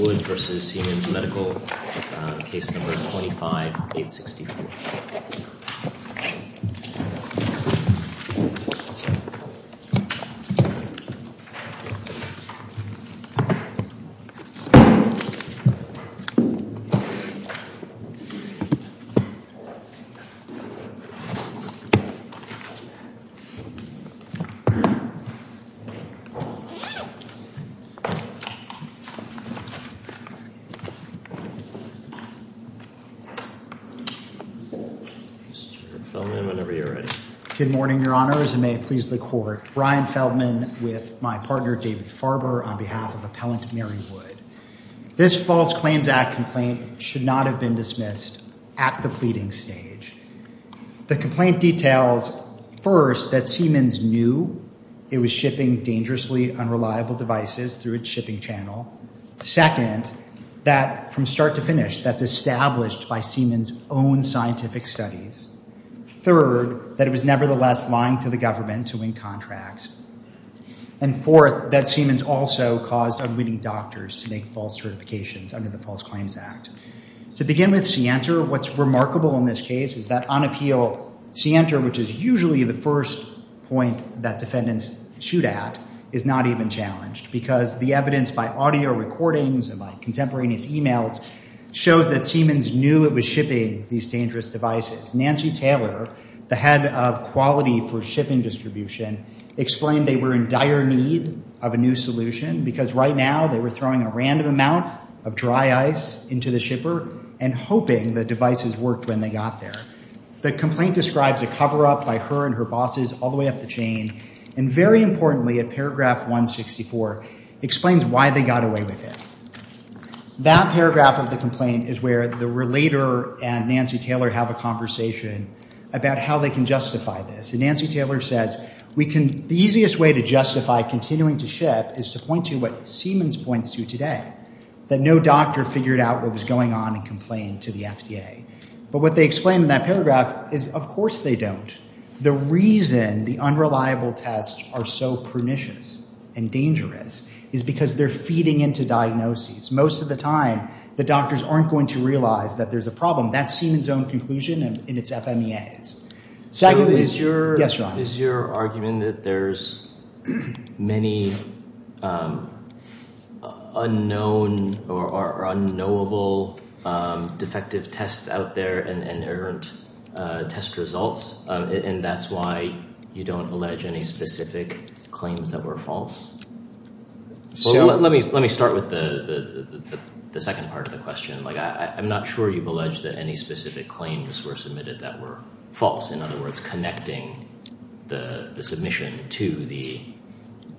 Wood v. Siemens Medical, Case No. 25-864. Mr. Feldman, whenever you're ready. Good morning, Your Honors, and may it please the Court. Brian Feldman with my partner, David Farber, on behalf of Appellant Mary Wood. This False Claims Act complaint should not have been dismissed at the pleading stage. The complaint details, first, that Siemens knew it was shipping dangerously unreliable devices through its shipping channel. Second, that from start to finish, that's established by Siemens' own scientific studies. Third, that it was nevertheless lying to the government to win contracts. And fourth, that Siemens also caused unwitting doctors to make false certifications under the False Claims Act. To begin with, scienter, what's remarkable in this case is that unappealed scienter, which is usually the first point that defendants shoot at, is not even challenged because the evidence by audio recordings and by contemporaneous emails shows that Siemens knew it was shipping these dangerous devices. Nancy Taylor, the head of quality for shipping distribution, explained they were in dire need of a new solution because right now they were throwing a random amount of dry ice into the shipper and hoping the devices worked when they got there. The complaint describes a cover-up by her and her bosses all the way up the chain. And very importantly, at paragraph 164, explains why they got away with it. That paragraph of the complaint is where the relator and Nancy Taylor have a conversation about how they can justify this. And Nancy Taylor says, the easiest way to justify continuing to ship is to point to what Siemens points to today, that no doctor figured out what was going on and complained to the FDA. But what they explain in that paragraph is, of course they don't. The reason the unreliable tests are so pernicious and dangerous is because they're feeding into diagnoses. Most of the time, the doctors aren't going to realize that there's a problem. That's Siemens' own conclusion in its FMEAs. Is your argument that there's many unknown or unknowable defective tests out there and errant test results, and that's why you don't allege any specific claims that were false? Let me start with the second part of the question. I'm not sure you've alleged that any specific claims were submitted that were false. In other words, connecting the submission to the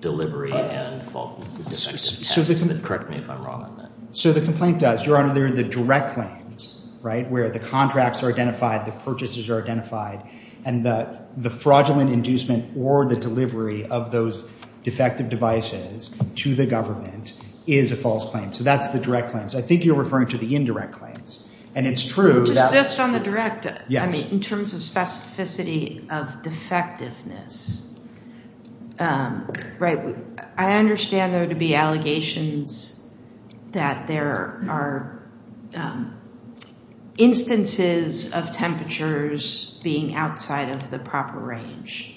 delivery and the defective test. Correct me if I'm wrong on that. So the complaint does. Your Honor, they're the direct claims, right, where the contracts are identified, the purchases are identified, and the fraudulent inducement or the delivery of those defective devices to the government is a false claim. So that's the direct claims. I think you're referring to the indirect claims, and it's true. Just on the direct, I mean, in terms of specificity of defectiveness, right, I understand there to be allegations that there are instances of temperatures being outside of the proper range.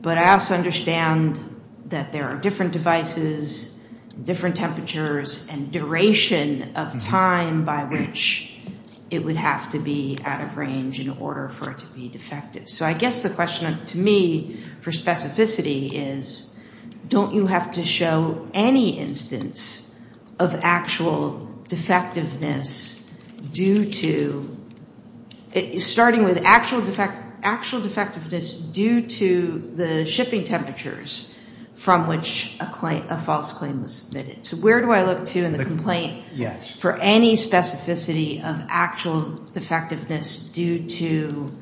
But I also understand that there are different devices, different temperatures, and duration of time by which it would have to be out of range in order for it to be defective. So I guess the question to me for specificity is don't you have to show any instance of actual defectiveness due to – starting with actual defectiveness due to the shipping temperatures from which a false claim was submitted. So where do I look to in the complaint for any specificity of actual defectiveness due to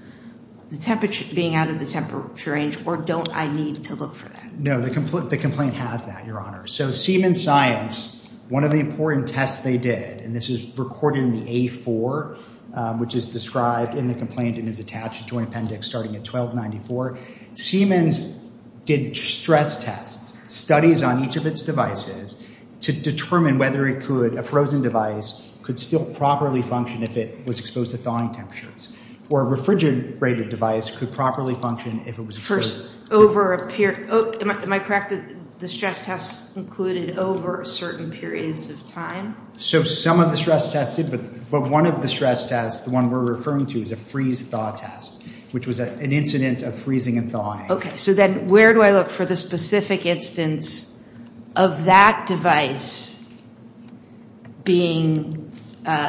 the temperature being out of the temperature range, or don't I need to look for that? No, the complaint has that, Your Honor. So Siemens Science, one of the important tests they did, and this is recorded in the A4, which is described in the complaint and is attached to an appendix starting at 1294. Siemens did stress tests, studies on each of its devices to determine whether it could – a frozen device could still properly function if it was exposed to thawing temperatures, or a refrigerated device could properly function if it was – First, over a – am I correct that the stress test included over certain periods of time? So some of the stress tests did, but one of the stress tests, the one we're referring to, is a freeze-thaw test, which was an incident of freezing and thawing. Okay. So then where do I look for the specific instance of that device being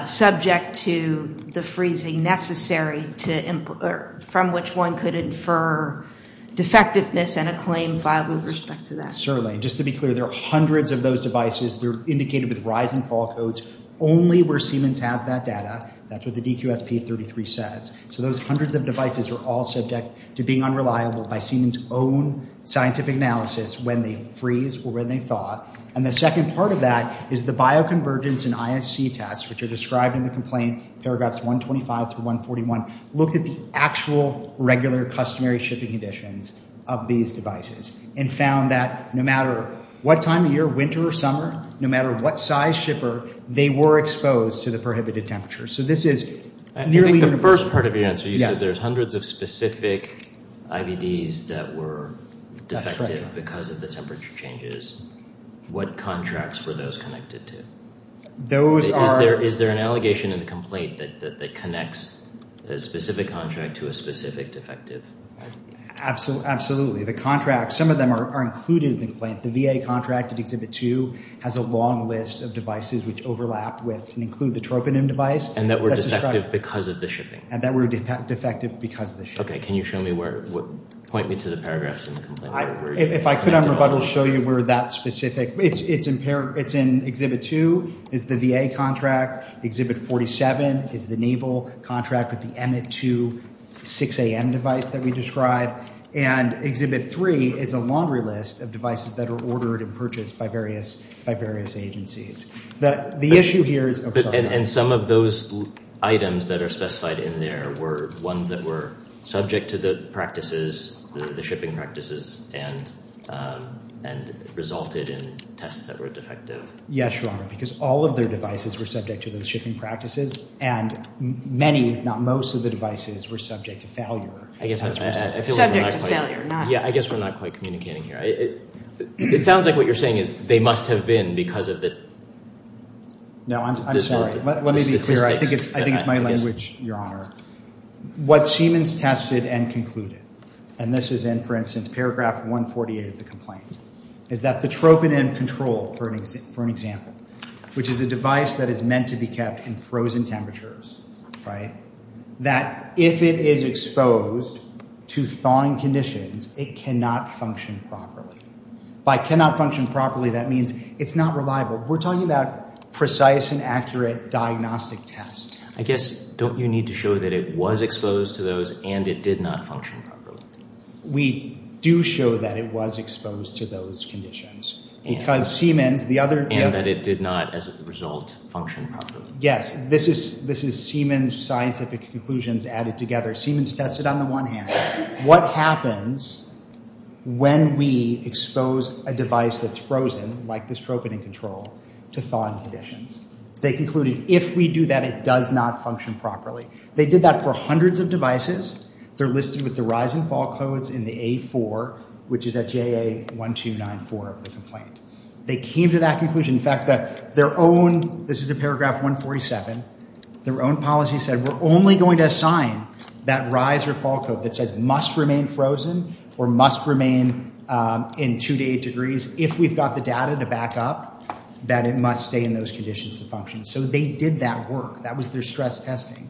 subject to the freezing necessary to – from which one could infer defectiveness and a claim filed with respect to that? Certainly. Just to be clear, there are hundreds of those devices. They're indicated with rise and fall codes only where Siemens has that data. That's what the DQSP-33 says. So those hundreds of devices are all subject to being unreliable by Siemens' own scientific analysis when they freeze or when they thaw. And the second part of that is the bioconvergence and ISC tests, which are described in the complaint, paragraphs 125 through 141, looked at the actual regular customary shipping conditions of these devices and found that no matter what time of year, winter or summer, no matter what size shipper, they were exposed to the prohibited temperature. So this is nearly universal. I think the first part of your answer, you said there's hundreds of specific IVDs that were defective because of the temperature changes. What contracts were those connected to? Those are – Is there an allegation in the complaint that connects a specific contract to a specific defective IVD? Absolutely. The contract – some of them are included in the complaint. The VA contract in Exhibit 2 has a long list of devices which overlap with and include the troponin device. And that were defective because of the shipping? And that were defective because of the shipping. Okay. Can you show me where – point me to the paragraphs in the complaint? If I could, I'm about to show you where that specific – it's in Exhibit 2. It's the VA contract. Exhibit 47 is the naval contract with the Emmett II 6AM device that we described. And Exhibit 3 is a laundry list of devices that are ordered and purchased by various agencies. The issue here is – And some of those items that are specified in there were ones that were subject to the practices, the shipping practices, and resulted in tests that were defective. Yes, Your Honor, because all of their devices were subject to those shipping practices. And many, if not most, of the devices were subject to failure. Subject to failure. Yeah, I guess we're not quite communicating here. It sounds like what you're saying is they must have been because of the statistics. No, I'm sorry. Let me be clear. I think it's my language, Your Honor. What Siemens tested and concluded, and this is in, for instance, paragraph 148 of the complaint, is that the troponin control, for an example, which is a device that is meant to be kept in frozen temperatures, that if it is exposed to thawing conditions, it cannot function properly. By cannot function properly, that means it's not reliable. We're talking about precise and accurate diagnostic tests. I guess, don't you need to show that it was exposed to those and it did not function properly? We do show that it was exposed to those conditions. And that it did not, as a result, function properly. Yes, this is Siemens' scientific conclusions added together. Siemens tested on the one hand what happens when we expose a device that's frozen, like this troponin control, to thawing conditions. They concluded if we do that, it does not function properly. They did that for hundreds of devices. They're listed with the rise and fall codes in the A4, which is at JA 1294 of the complaint. They came to that conclusion. In fact, their own, this is in paragraph 147, their own policy said we're only going to assign that rise or fall code that says must remain frozen or must remain in two to eight degrees if we've got the data to back up, that it must stay in those conditions to function. So they did that work. That was their stress testing.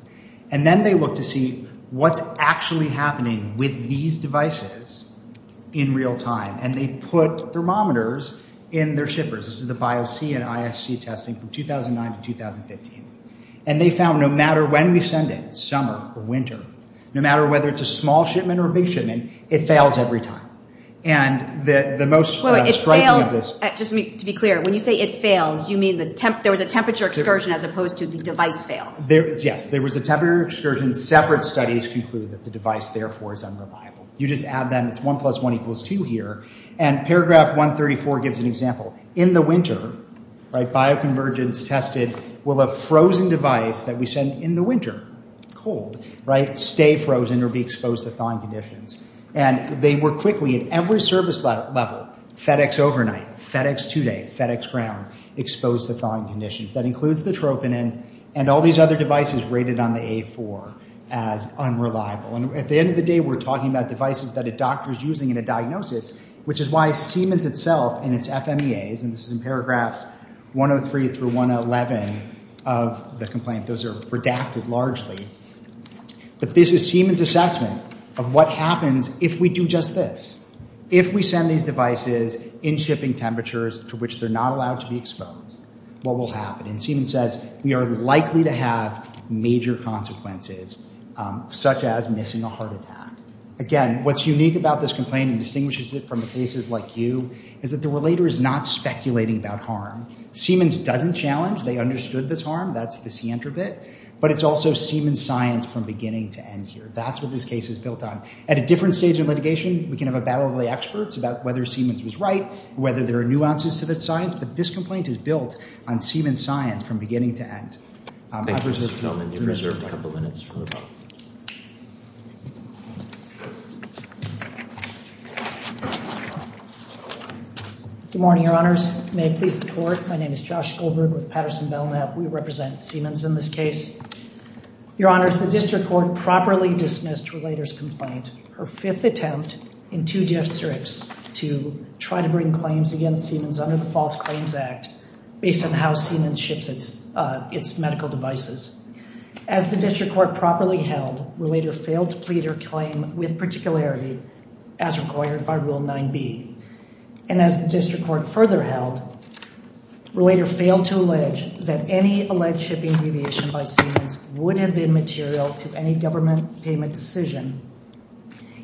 And then they looked to see what's actually happening with these devices in real time. And they put thermometers in their shippers. This is the Bio-C and ISC testing from 2009 to 2015. And they found no matter when we send it, summer or winter, no matter whether it's a small shipment or a big shipment, it fails every time. And the most striking of this- Wait, it fails, just to be clear, when you say it fails, you mean there was a temperature excursion as opposed to the device fails? Yes, there was a temperature excursion. Separate studies conclude that the device, therefore, is unreliable. You just add them. It's one plus one equals two here. And paragraph 134 gives an example. In the winter, right, bioconvergence tested, will a frozen device that we send in the winter, cold, right, stay frozen or be exposed to thawing conditions? And they were quickly, at every service level, FedEx overnight, FedEx today, FedEx ground, exposed to thawing conditions. That includes the troponin and all these other devices rated on the A4 as unreliable. And at the end of the day, we're talking about devices that a doctor is using in a diagnosis, which is why Siemens itself in its FMEAs, and this is in paragraphs 103 through 111 of the complaint, those are redacted largely, but this is Siemens' assessment of what happens if we do just this. If we send these devices in shipping temperatures to which they're not allowed to be exposed, what will happen? And Siemens says we are likely to have major consequences, such as missing a heart attack. Again, what's unique about this complaint and distinguishes it from the cases like you is that the relator is not speculating about harm. Siemens doesn't challenge. They understood this harm. That's the scienter bit. But it's also Siemens science from beginning to end here. That's what this case is built on. At a different stage in litigation, we can have a battle of the experts about whether Siemens was right, whether there are nuances to that science, but this complaint is built on Siemens science from beginning to end. Thank you, Mr. Goldman. You're reserved a couple minutes for the vote. Good morning, Your Honors. May it please the Court. My name is Josh Goldberg with Patterson Belknap. We represent Siemens in this case. Your Honors, the district court properly dismissed relator's complaint. Her fifth attempt in two districts to try to bring claims against Siemens under the False Claims Act based on how Siemens ships its medical devices. As the district court properly held, relator failed to plead her claim with particularity as required by Rule 9B. And as the district court further held, relator failed to allege that any alleged shipping deviation by Siemens would have been material to any government payment decision,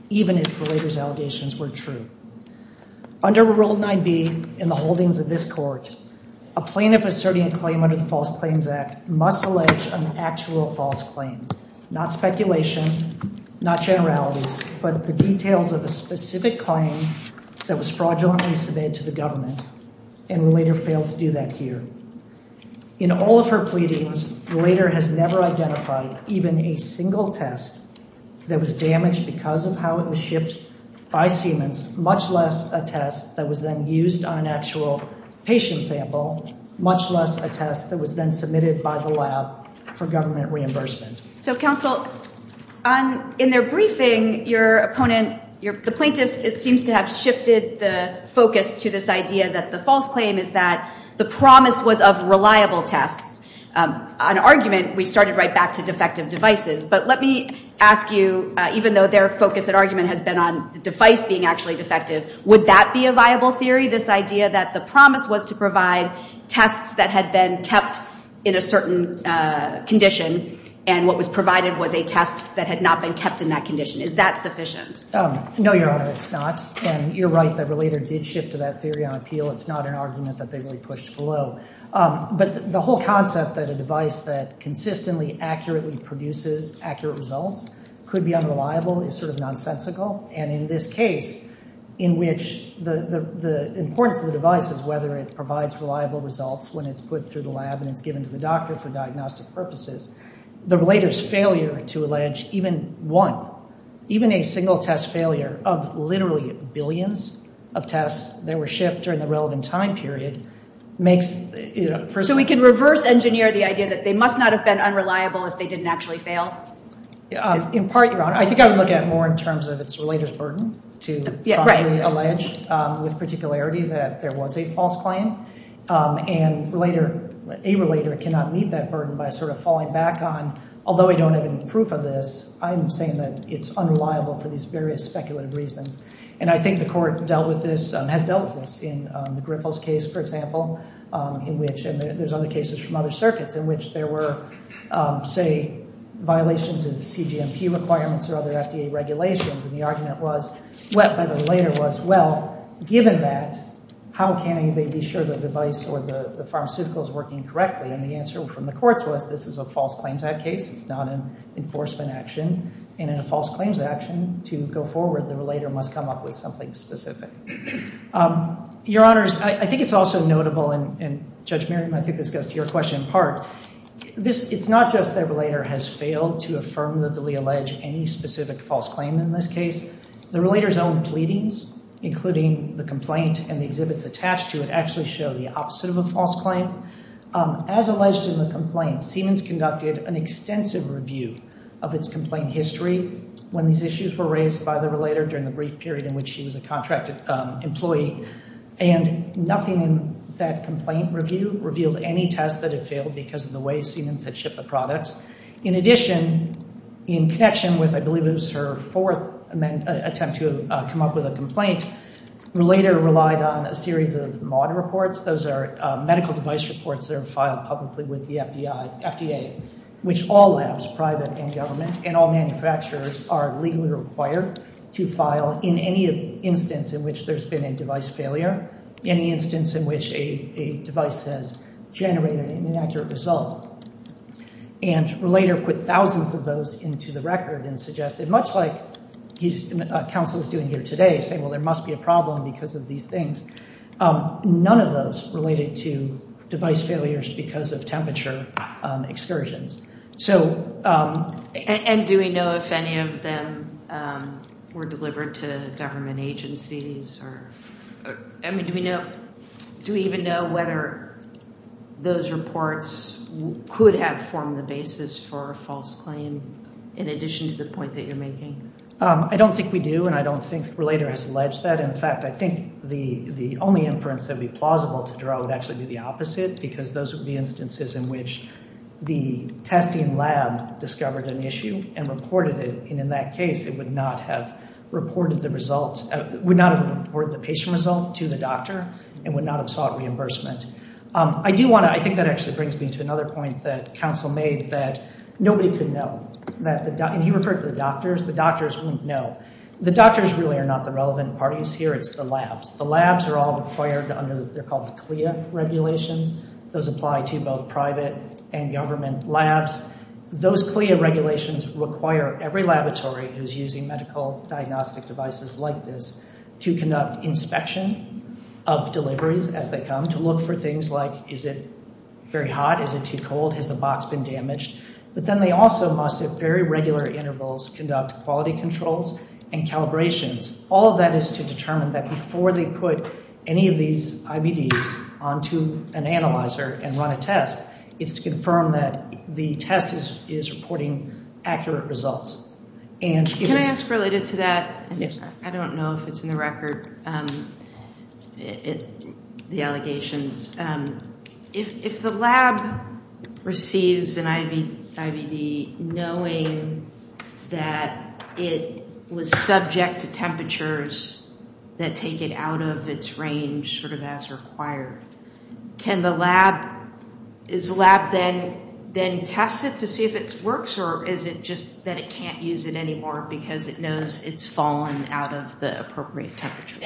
even if relator's allegations were true. Under Rule 9B in the holdings of this court, a plaintiff asserting a claim under the False Claims Act must allege an actual false claim, not speculation, not generalities, but the details of a specific claim that was fraudulently submitted to the government, and relator failed to do that here. In all of her pleadings, relator has never identified even a single test that was damaged because of how it was shipped by Siemens, much less a test that was then used on an actual patient sample, much less a test that was then submitted by the lab for government reimbursement. So, counsel, in their briefing, your opponent, the plaintiff seems to have shifted the focus to this idea that the false claim is that the promise was of reliable tests. On argument, we started right back to defective devices, but let me ask you, even though their focus and argument has been on the device being actually defective, would that be a viable theory, this idea that the promise was to provide tests that had been kept in a certain condition, and what was provided was a test that had not been kept in that condition? Is that sufficient? No, Your Honor, it's not, and you're right that relator did shift to that theory on appeal. It's not an argument that they really pushed below. But the whole concept that a device that consistently accurately produces accurate results could be unreliable is sort of nonsensical, and in this case, in which the importance of the device is whether it provides reliable results when it's put through the lab and it's given to the doctor for diagnostic purposes, the relator's failure to allege even one, even a single test failure of literally billions of tests that were shipped during the relevant time period makes, you know... So we can reverse engineer the idea that they must not have been unreliable if they didn't actually fail? In part, Your Honor, I think I would look at it more in terms of its relator's burden to properly allege with particularity that there was a false claim, and a relator cannot meet that burden by sort of falling back on, although I don't have any proof of this, I'm saying that it's unreliable for these various speculative reasons, and I think the court has dealt with this in the Griffles case, for example, and there's other cases from other circuits in which there were, say, violations of CGMP requirements or other FDA regulations, and the argument by the relator was, well, given that, how can anybody be sure the device or the pharmaceutical is working correctly? And the answer from the courts was, this is a false claims act case, it's not an enforcement action, and in a false claims action, to go forward, the relator must come up with something specific. Your Honors, I think it's also notable, and Judge Merriam, I think this goes to your question in part, it's not just that a relator has failed to affirmatively allege any specific false claim in this case, the relator's own pleadings, including the complaint and the exhibits attached to it, actually show the opposite of a false claim. As alleged in the complaint, Siemens conducted an extensive review of its complaint history when these issues were raised by the relator during the brief period in which she was a contracted employee, and nothing in that complaint review revealed any tests that it failed because of the way Siemens had shipped the products. In addition, in connection with, I believe it was her fourth attempt to come up with a complaint, the relator relied on a series of mod reports, those are medical device reports that are filed publicly with the FDA, which all labs, private and government, and all manufacturers are legally required to file in any instance in which there's been a device failure, any instance in which a device has generated an inaccurate result. And the relator put thousands of those into the record and suggested, much like a counsel is doing here today, saying, well, there must be a problem because of these things. None of those related to device failures because of temperature excursions. And do we know if any of them were delivered to government agencies? I mean, do we even know whether those reports could have formed the basis for a false claim, in addition to the point that you're making? I don't think we do, and I don't think the relator has alleged that. In fact, I think the only inference that would be plausible to draw would actually be the opposite because those would be instances in which the testing lab discovered an issue and reported it. And in that case, it would not have reported the patient result to the doctor and would not have sought reimbursement. I think that actually brings me to another point that counsel made that nobody could know. And he referred to the doctors. The doctors wouldn't know. The doctors really are not the relevant parties here. It's the labs. The labs are all required under – they're called the CLIA regulations. Those apply to both private and government labs. Those CLIA regulations require every laboratory who's using medical diagnostic devices like this to conduct inspection of deliveries as they come, to look for things like, is it very hot? Is it too cold? Has the box been damaged? But then they also must at very regular intervals conduct quality controls and calibrations. All of that is to determine that before they put any of these IBDs onto an analyzer and run a test, it's to confirm that the test is reporting accurate results. Can I ask related to that? I don't know if it's in the record, the allegations. If the lab receives an IBD knowing that it was subject to temperatures that take it out of its range sort of as required, can the lab – is the lab then tested to see if it works or is it just that it can't use it anymore because it knows it's fallen out of the appropriate temperature?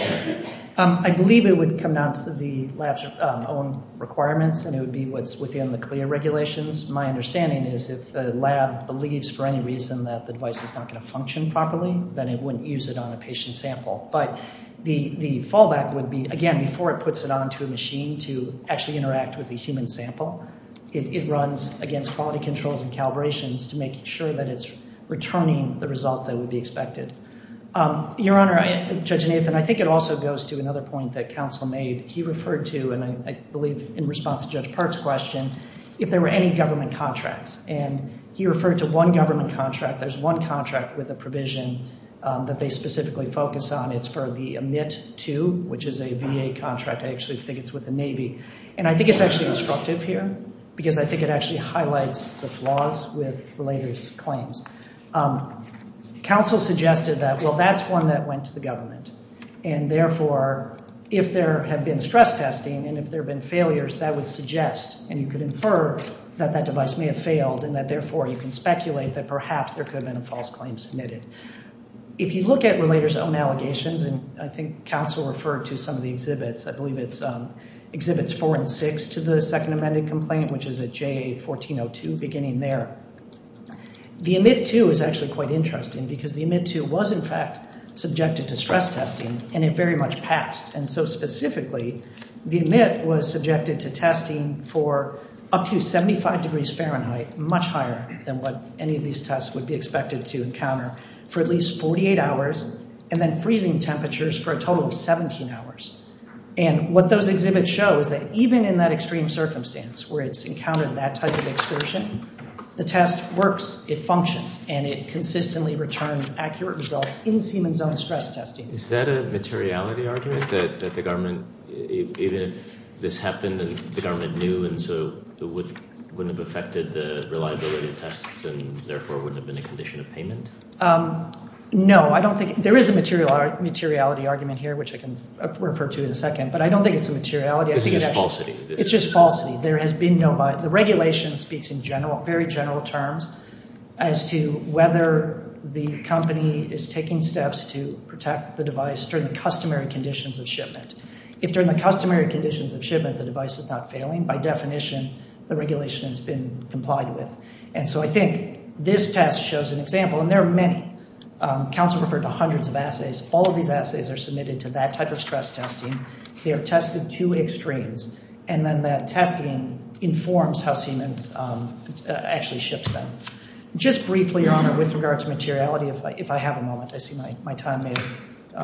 I believe it would come down to the lab's own requirements and it would be what's within the CLIA regulations. My understanding is if the lab believes for any reason that the device is not going to function properly, then it wouldn't use it on a patient sample. But the fallback would be, again, before it puts it onto a machine to actually interact with a human sample, it runs against quality controls and calibrations to make sure that it's returning the result that would be expected. Your Honor, Judge Nathan, I think it also goes to another point that counsel made. He referred to, and I believe in response to Judge Park's question, if there were any government contracts. And he referred to one government contract. There's one contract with a provision that they specifically focus on. It's for the EMIT-II, which is a VA contract. I actually think it's with the Navy. And I think it's actually instructive here because I think it actually highlights the flaws with related claims. Counsel suggested that, well, that's one that went to the government. And therefore, if there had been stress testing and if there had been failures, that would suggest and you could infer that that device may have failed and that therefore you can speculate that perhaps there could have been a false claim submitted. If you look at relators' own allegations, and I think counsel referred to some of the exhibits, I believe it exhibits four and six to the second amended complaint, which is at JA-1402, beginning there. The EMIT-II is actually quite interesting because the EMIT-II was in fact subjected to stress testing and it very much passed. And so specifically, the EMIT was subjected to testing for up to 75 degrees Fahrenheit, much higher than what any of these tests would be expected to encounter, for at least 48 hours and then freezing temperatures for a total of 17 hours. And what those exhibits show is that even in that extreme circumstance where it's encountered that type of excursion, the test works, it functions, and it consistently returns accurate results in Siemens' own stress testing. Is that a materiality argument that the government, even if this happened and the government knew and so it wouldn't have affected the reliability of tests and therefore wouldn't have been a condition of payment? No, I don't think there is a materiality argument here, which I can refer to in a second, but I don't think it's a materiality. You think it's falsity? It's just falsity. There has been no violation. The regulation speaks in very general terms as to whether the company is taking steps to protect the device during the customary conditions of shipment. If during the customary conditions of shipment the device is not failing, by definition the regulation has been complied with. And so I think this test shows an example, and there are many. Counsel referred to hundreds of assays. All of these assays are submitted to that type of stress testing. They are tested to extremes. And then that testing informs how Siemens actually ships them. Just briefly, Your Honor, with regard to materiality, if I have a moment. I see my time is up.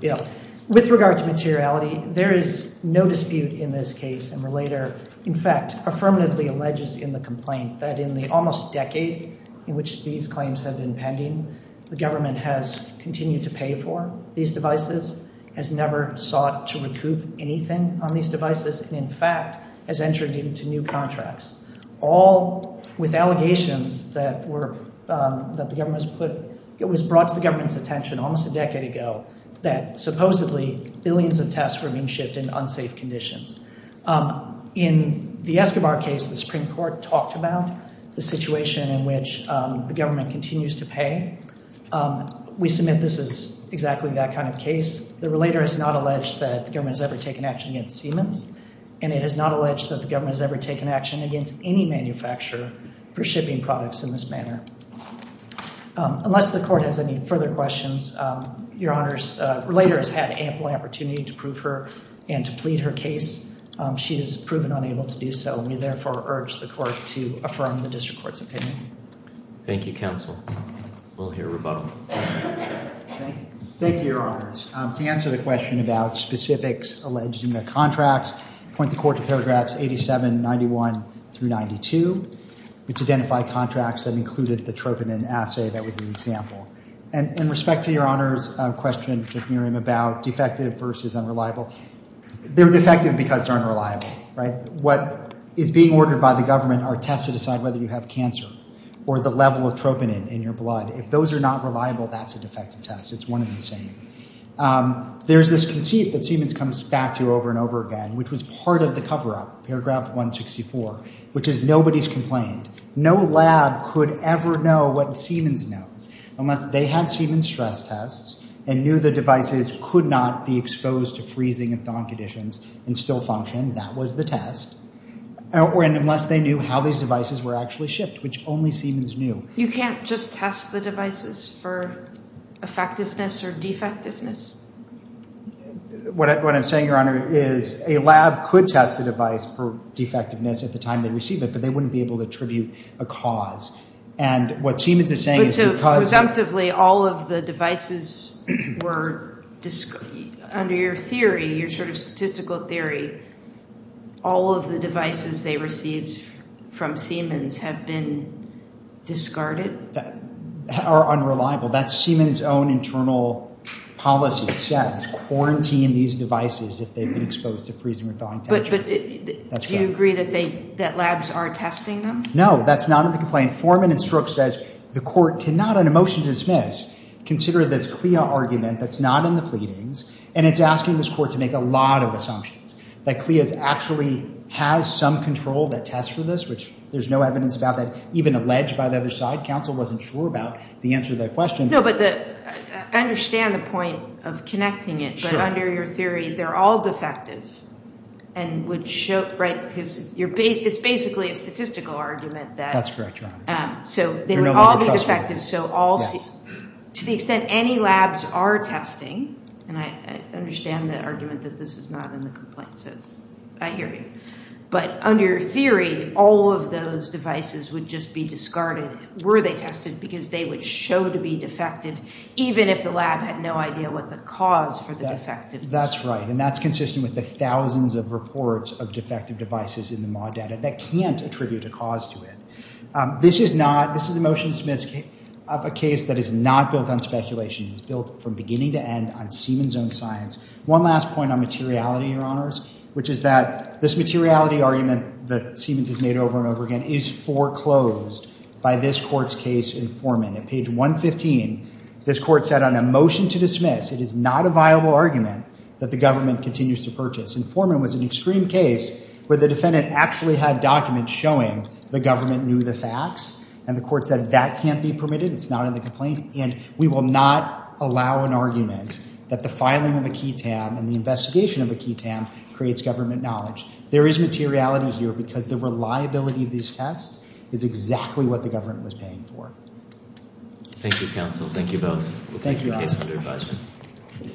Go ahead. With regard to materiality, there is no dispute in this case. In fact, affirmatively alleges in the complaint that in the almost decade in which these claims have been pending, the government has continued to pay for these devices, has never sought to recoup anything on these devices, and in fact has entered into new contracts, all with allegations that the government has put, it was brought to the government's attention almost a decade ago that supposedly billions of tests were being shipped in unsafe conditions. In the Escobar case, the Supreme Court talked about the situation in which the government continues to pay. We submit this is exactly that kind of case. The relator has not alleged that the government has ever taken action against Siemens, and it is not alleged that the government has ever taken action against any manufacturer for shipping products in this manner. Unless the court has any further questions, Your Honors, the relator has had ample opportunity to prove her and to plead her case. She has proven unable to do so. We therefore urge the court to affirm the district court's opinion. Thank you, counsel. We'll hear rebuttal. Thank you, Your Honors. To answer the question about specifics alleged in the contracts, I point the court to paragraphs 87, 91 through 92, which identify contracts that included the troponin assay that was an example. In respect to Your Honors' question to Miriam about defective versus unreliable, they're defective because they're unreliable, right? What is being ordered by the government are tests to decide whether you have cancer or the level of troponin in your blood. If those are not reliable, that's a defective test. It's one of the same. There's this conceit that Siemens comes back to over and over again, which was part of the cover-up, paragraph 164, which is nobody's complained. No lab could ever know what Siemens knows unless they had Siemens stress tests and knew the devices could not be exposed to freezing and thawing conditions and still function. That was the test. Unless they knew how these devices were actually shipped, which only Siemens knew. You can't just test the devices for effectiveness or defectiveness? What I'm saying, Your Honor, is a lab could test a device for defectiveness at the time they receive it, but they wouldn't be able to attribute a cause. So presumptively all of the devices were, under your theory, your sort of statistical theory, all of the devices they received from Siemens have been discarded? Or unreliable. That's Siemens' own internal policy. It says quarantine these devices if they've been exposed to freezing or thawing temperatures. Do you agree that labs are testing them? No, that's not in the complaint. Foreman and Strokes says the court cannot, on a motion to dismiss, consider this CLIA argument that's not in the pleadings, and it's asking this court to make a lot of assumptions, that CLIA actually has some control that tests for this, which there's no evidence about that even alleged by the other side. Counsel wasn't sure about the answer to that question. No, but I understand the point of connecting it, but under your theory, they're all defective, because it's basically a statistical argument. That's correct, Your Honor. So they would all be defective. To the extent any labs are testing, and I understand the argument that this is not in the complaint, so I hear you. But under your theory, all of those devices would just be discarded were they tested, because they would show to be defective, even if the lab had no idea what the cause for the defective is. That's right, and that's consistent with the thousands of reports of defective devices in the MAW data that can't attribute a cause to it. This is a motion to dismiss of a case that is not built on speculation. It's built from beginning to end on Siemens's own science. One last point on materiality, Your Honors, which is that this materiality argument that Siemens has made over and over again is foreclosed by this court's case informant. At page 115, this court said on a motion to dismiss, it is not a viable argument that the government continues to purchase. Informant was an extreme case where the defendant actually had documents showing the government knew the facts, and the court said that can't be permitted, it's not in the complaint, and we will not allow an argument that the filing of a key tab and the investigation of a key tab creates government knowledge. There is materiality here because the reliability of these tests is exactly what the government was paying for. Thank you, counsel. Thank you both. Thank you, Your Honors.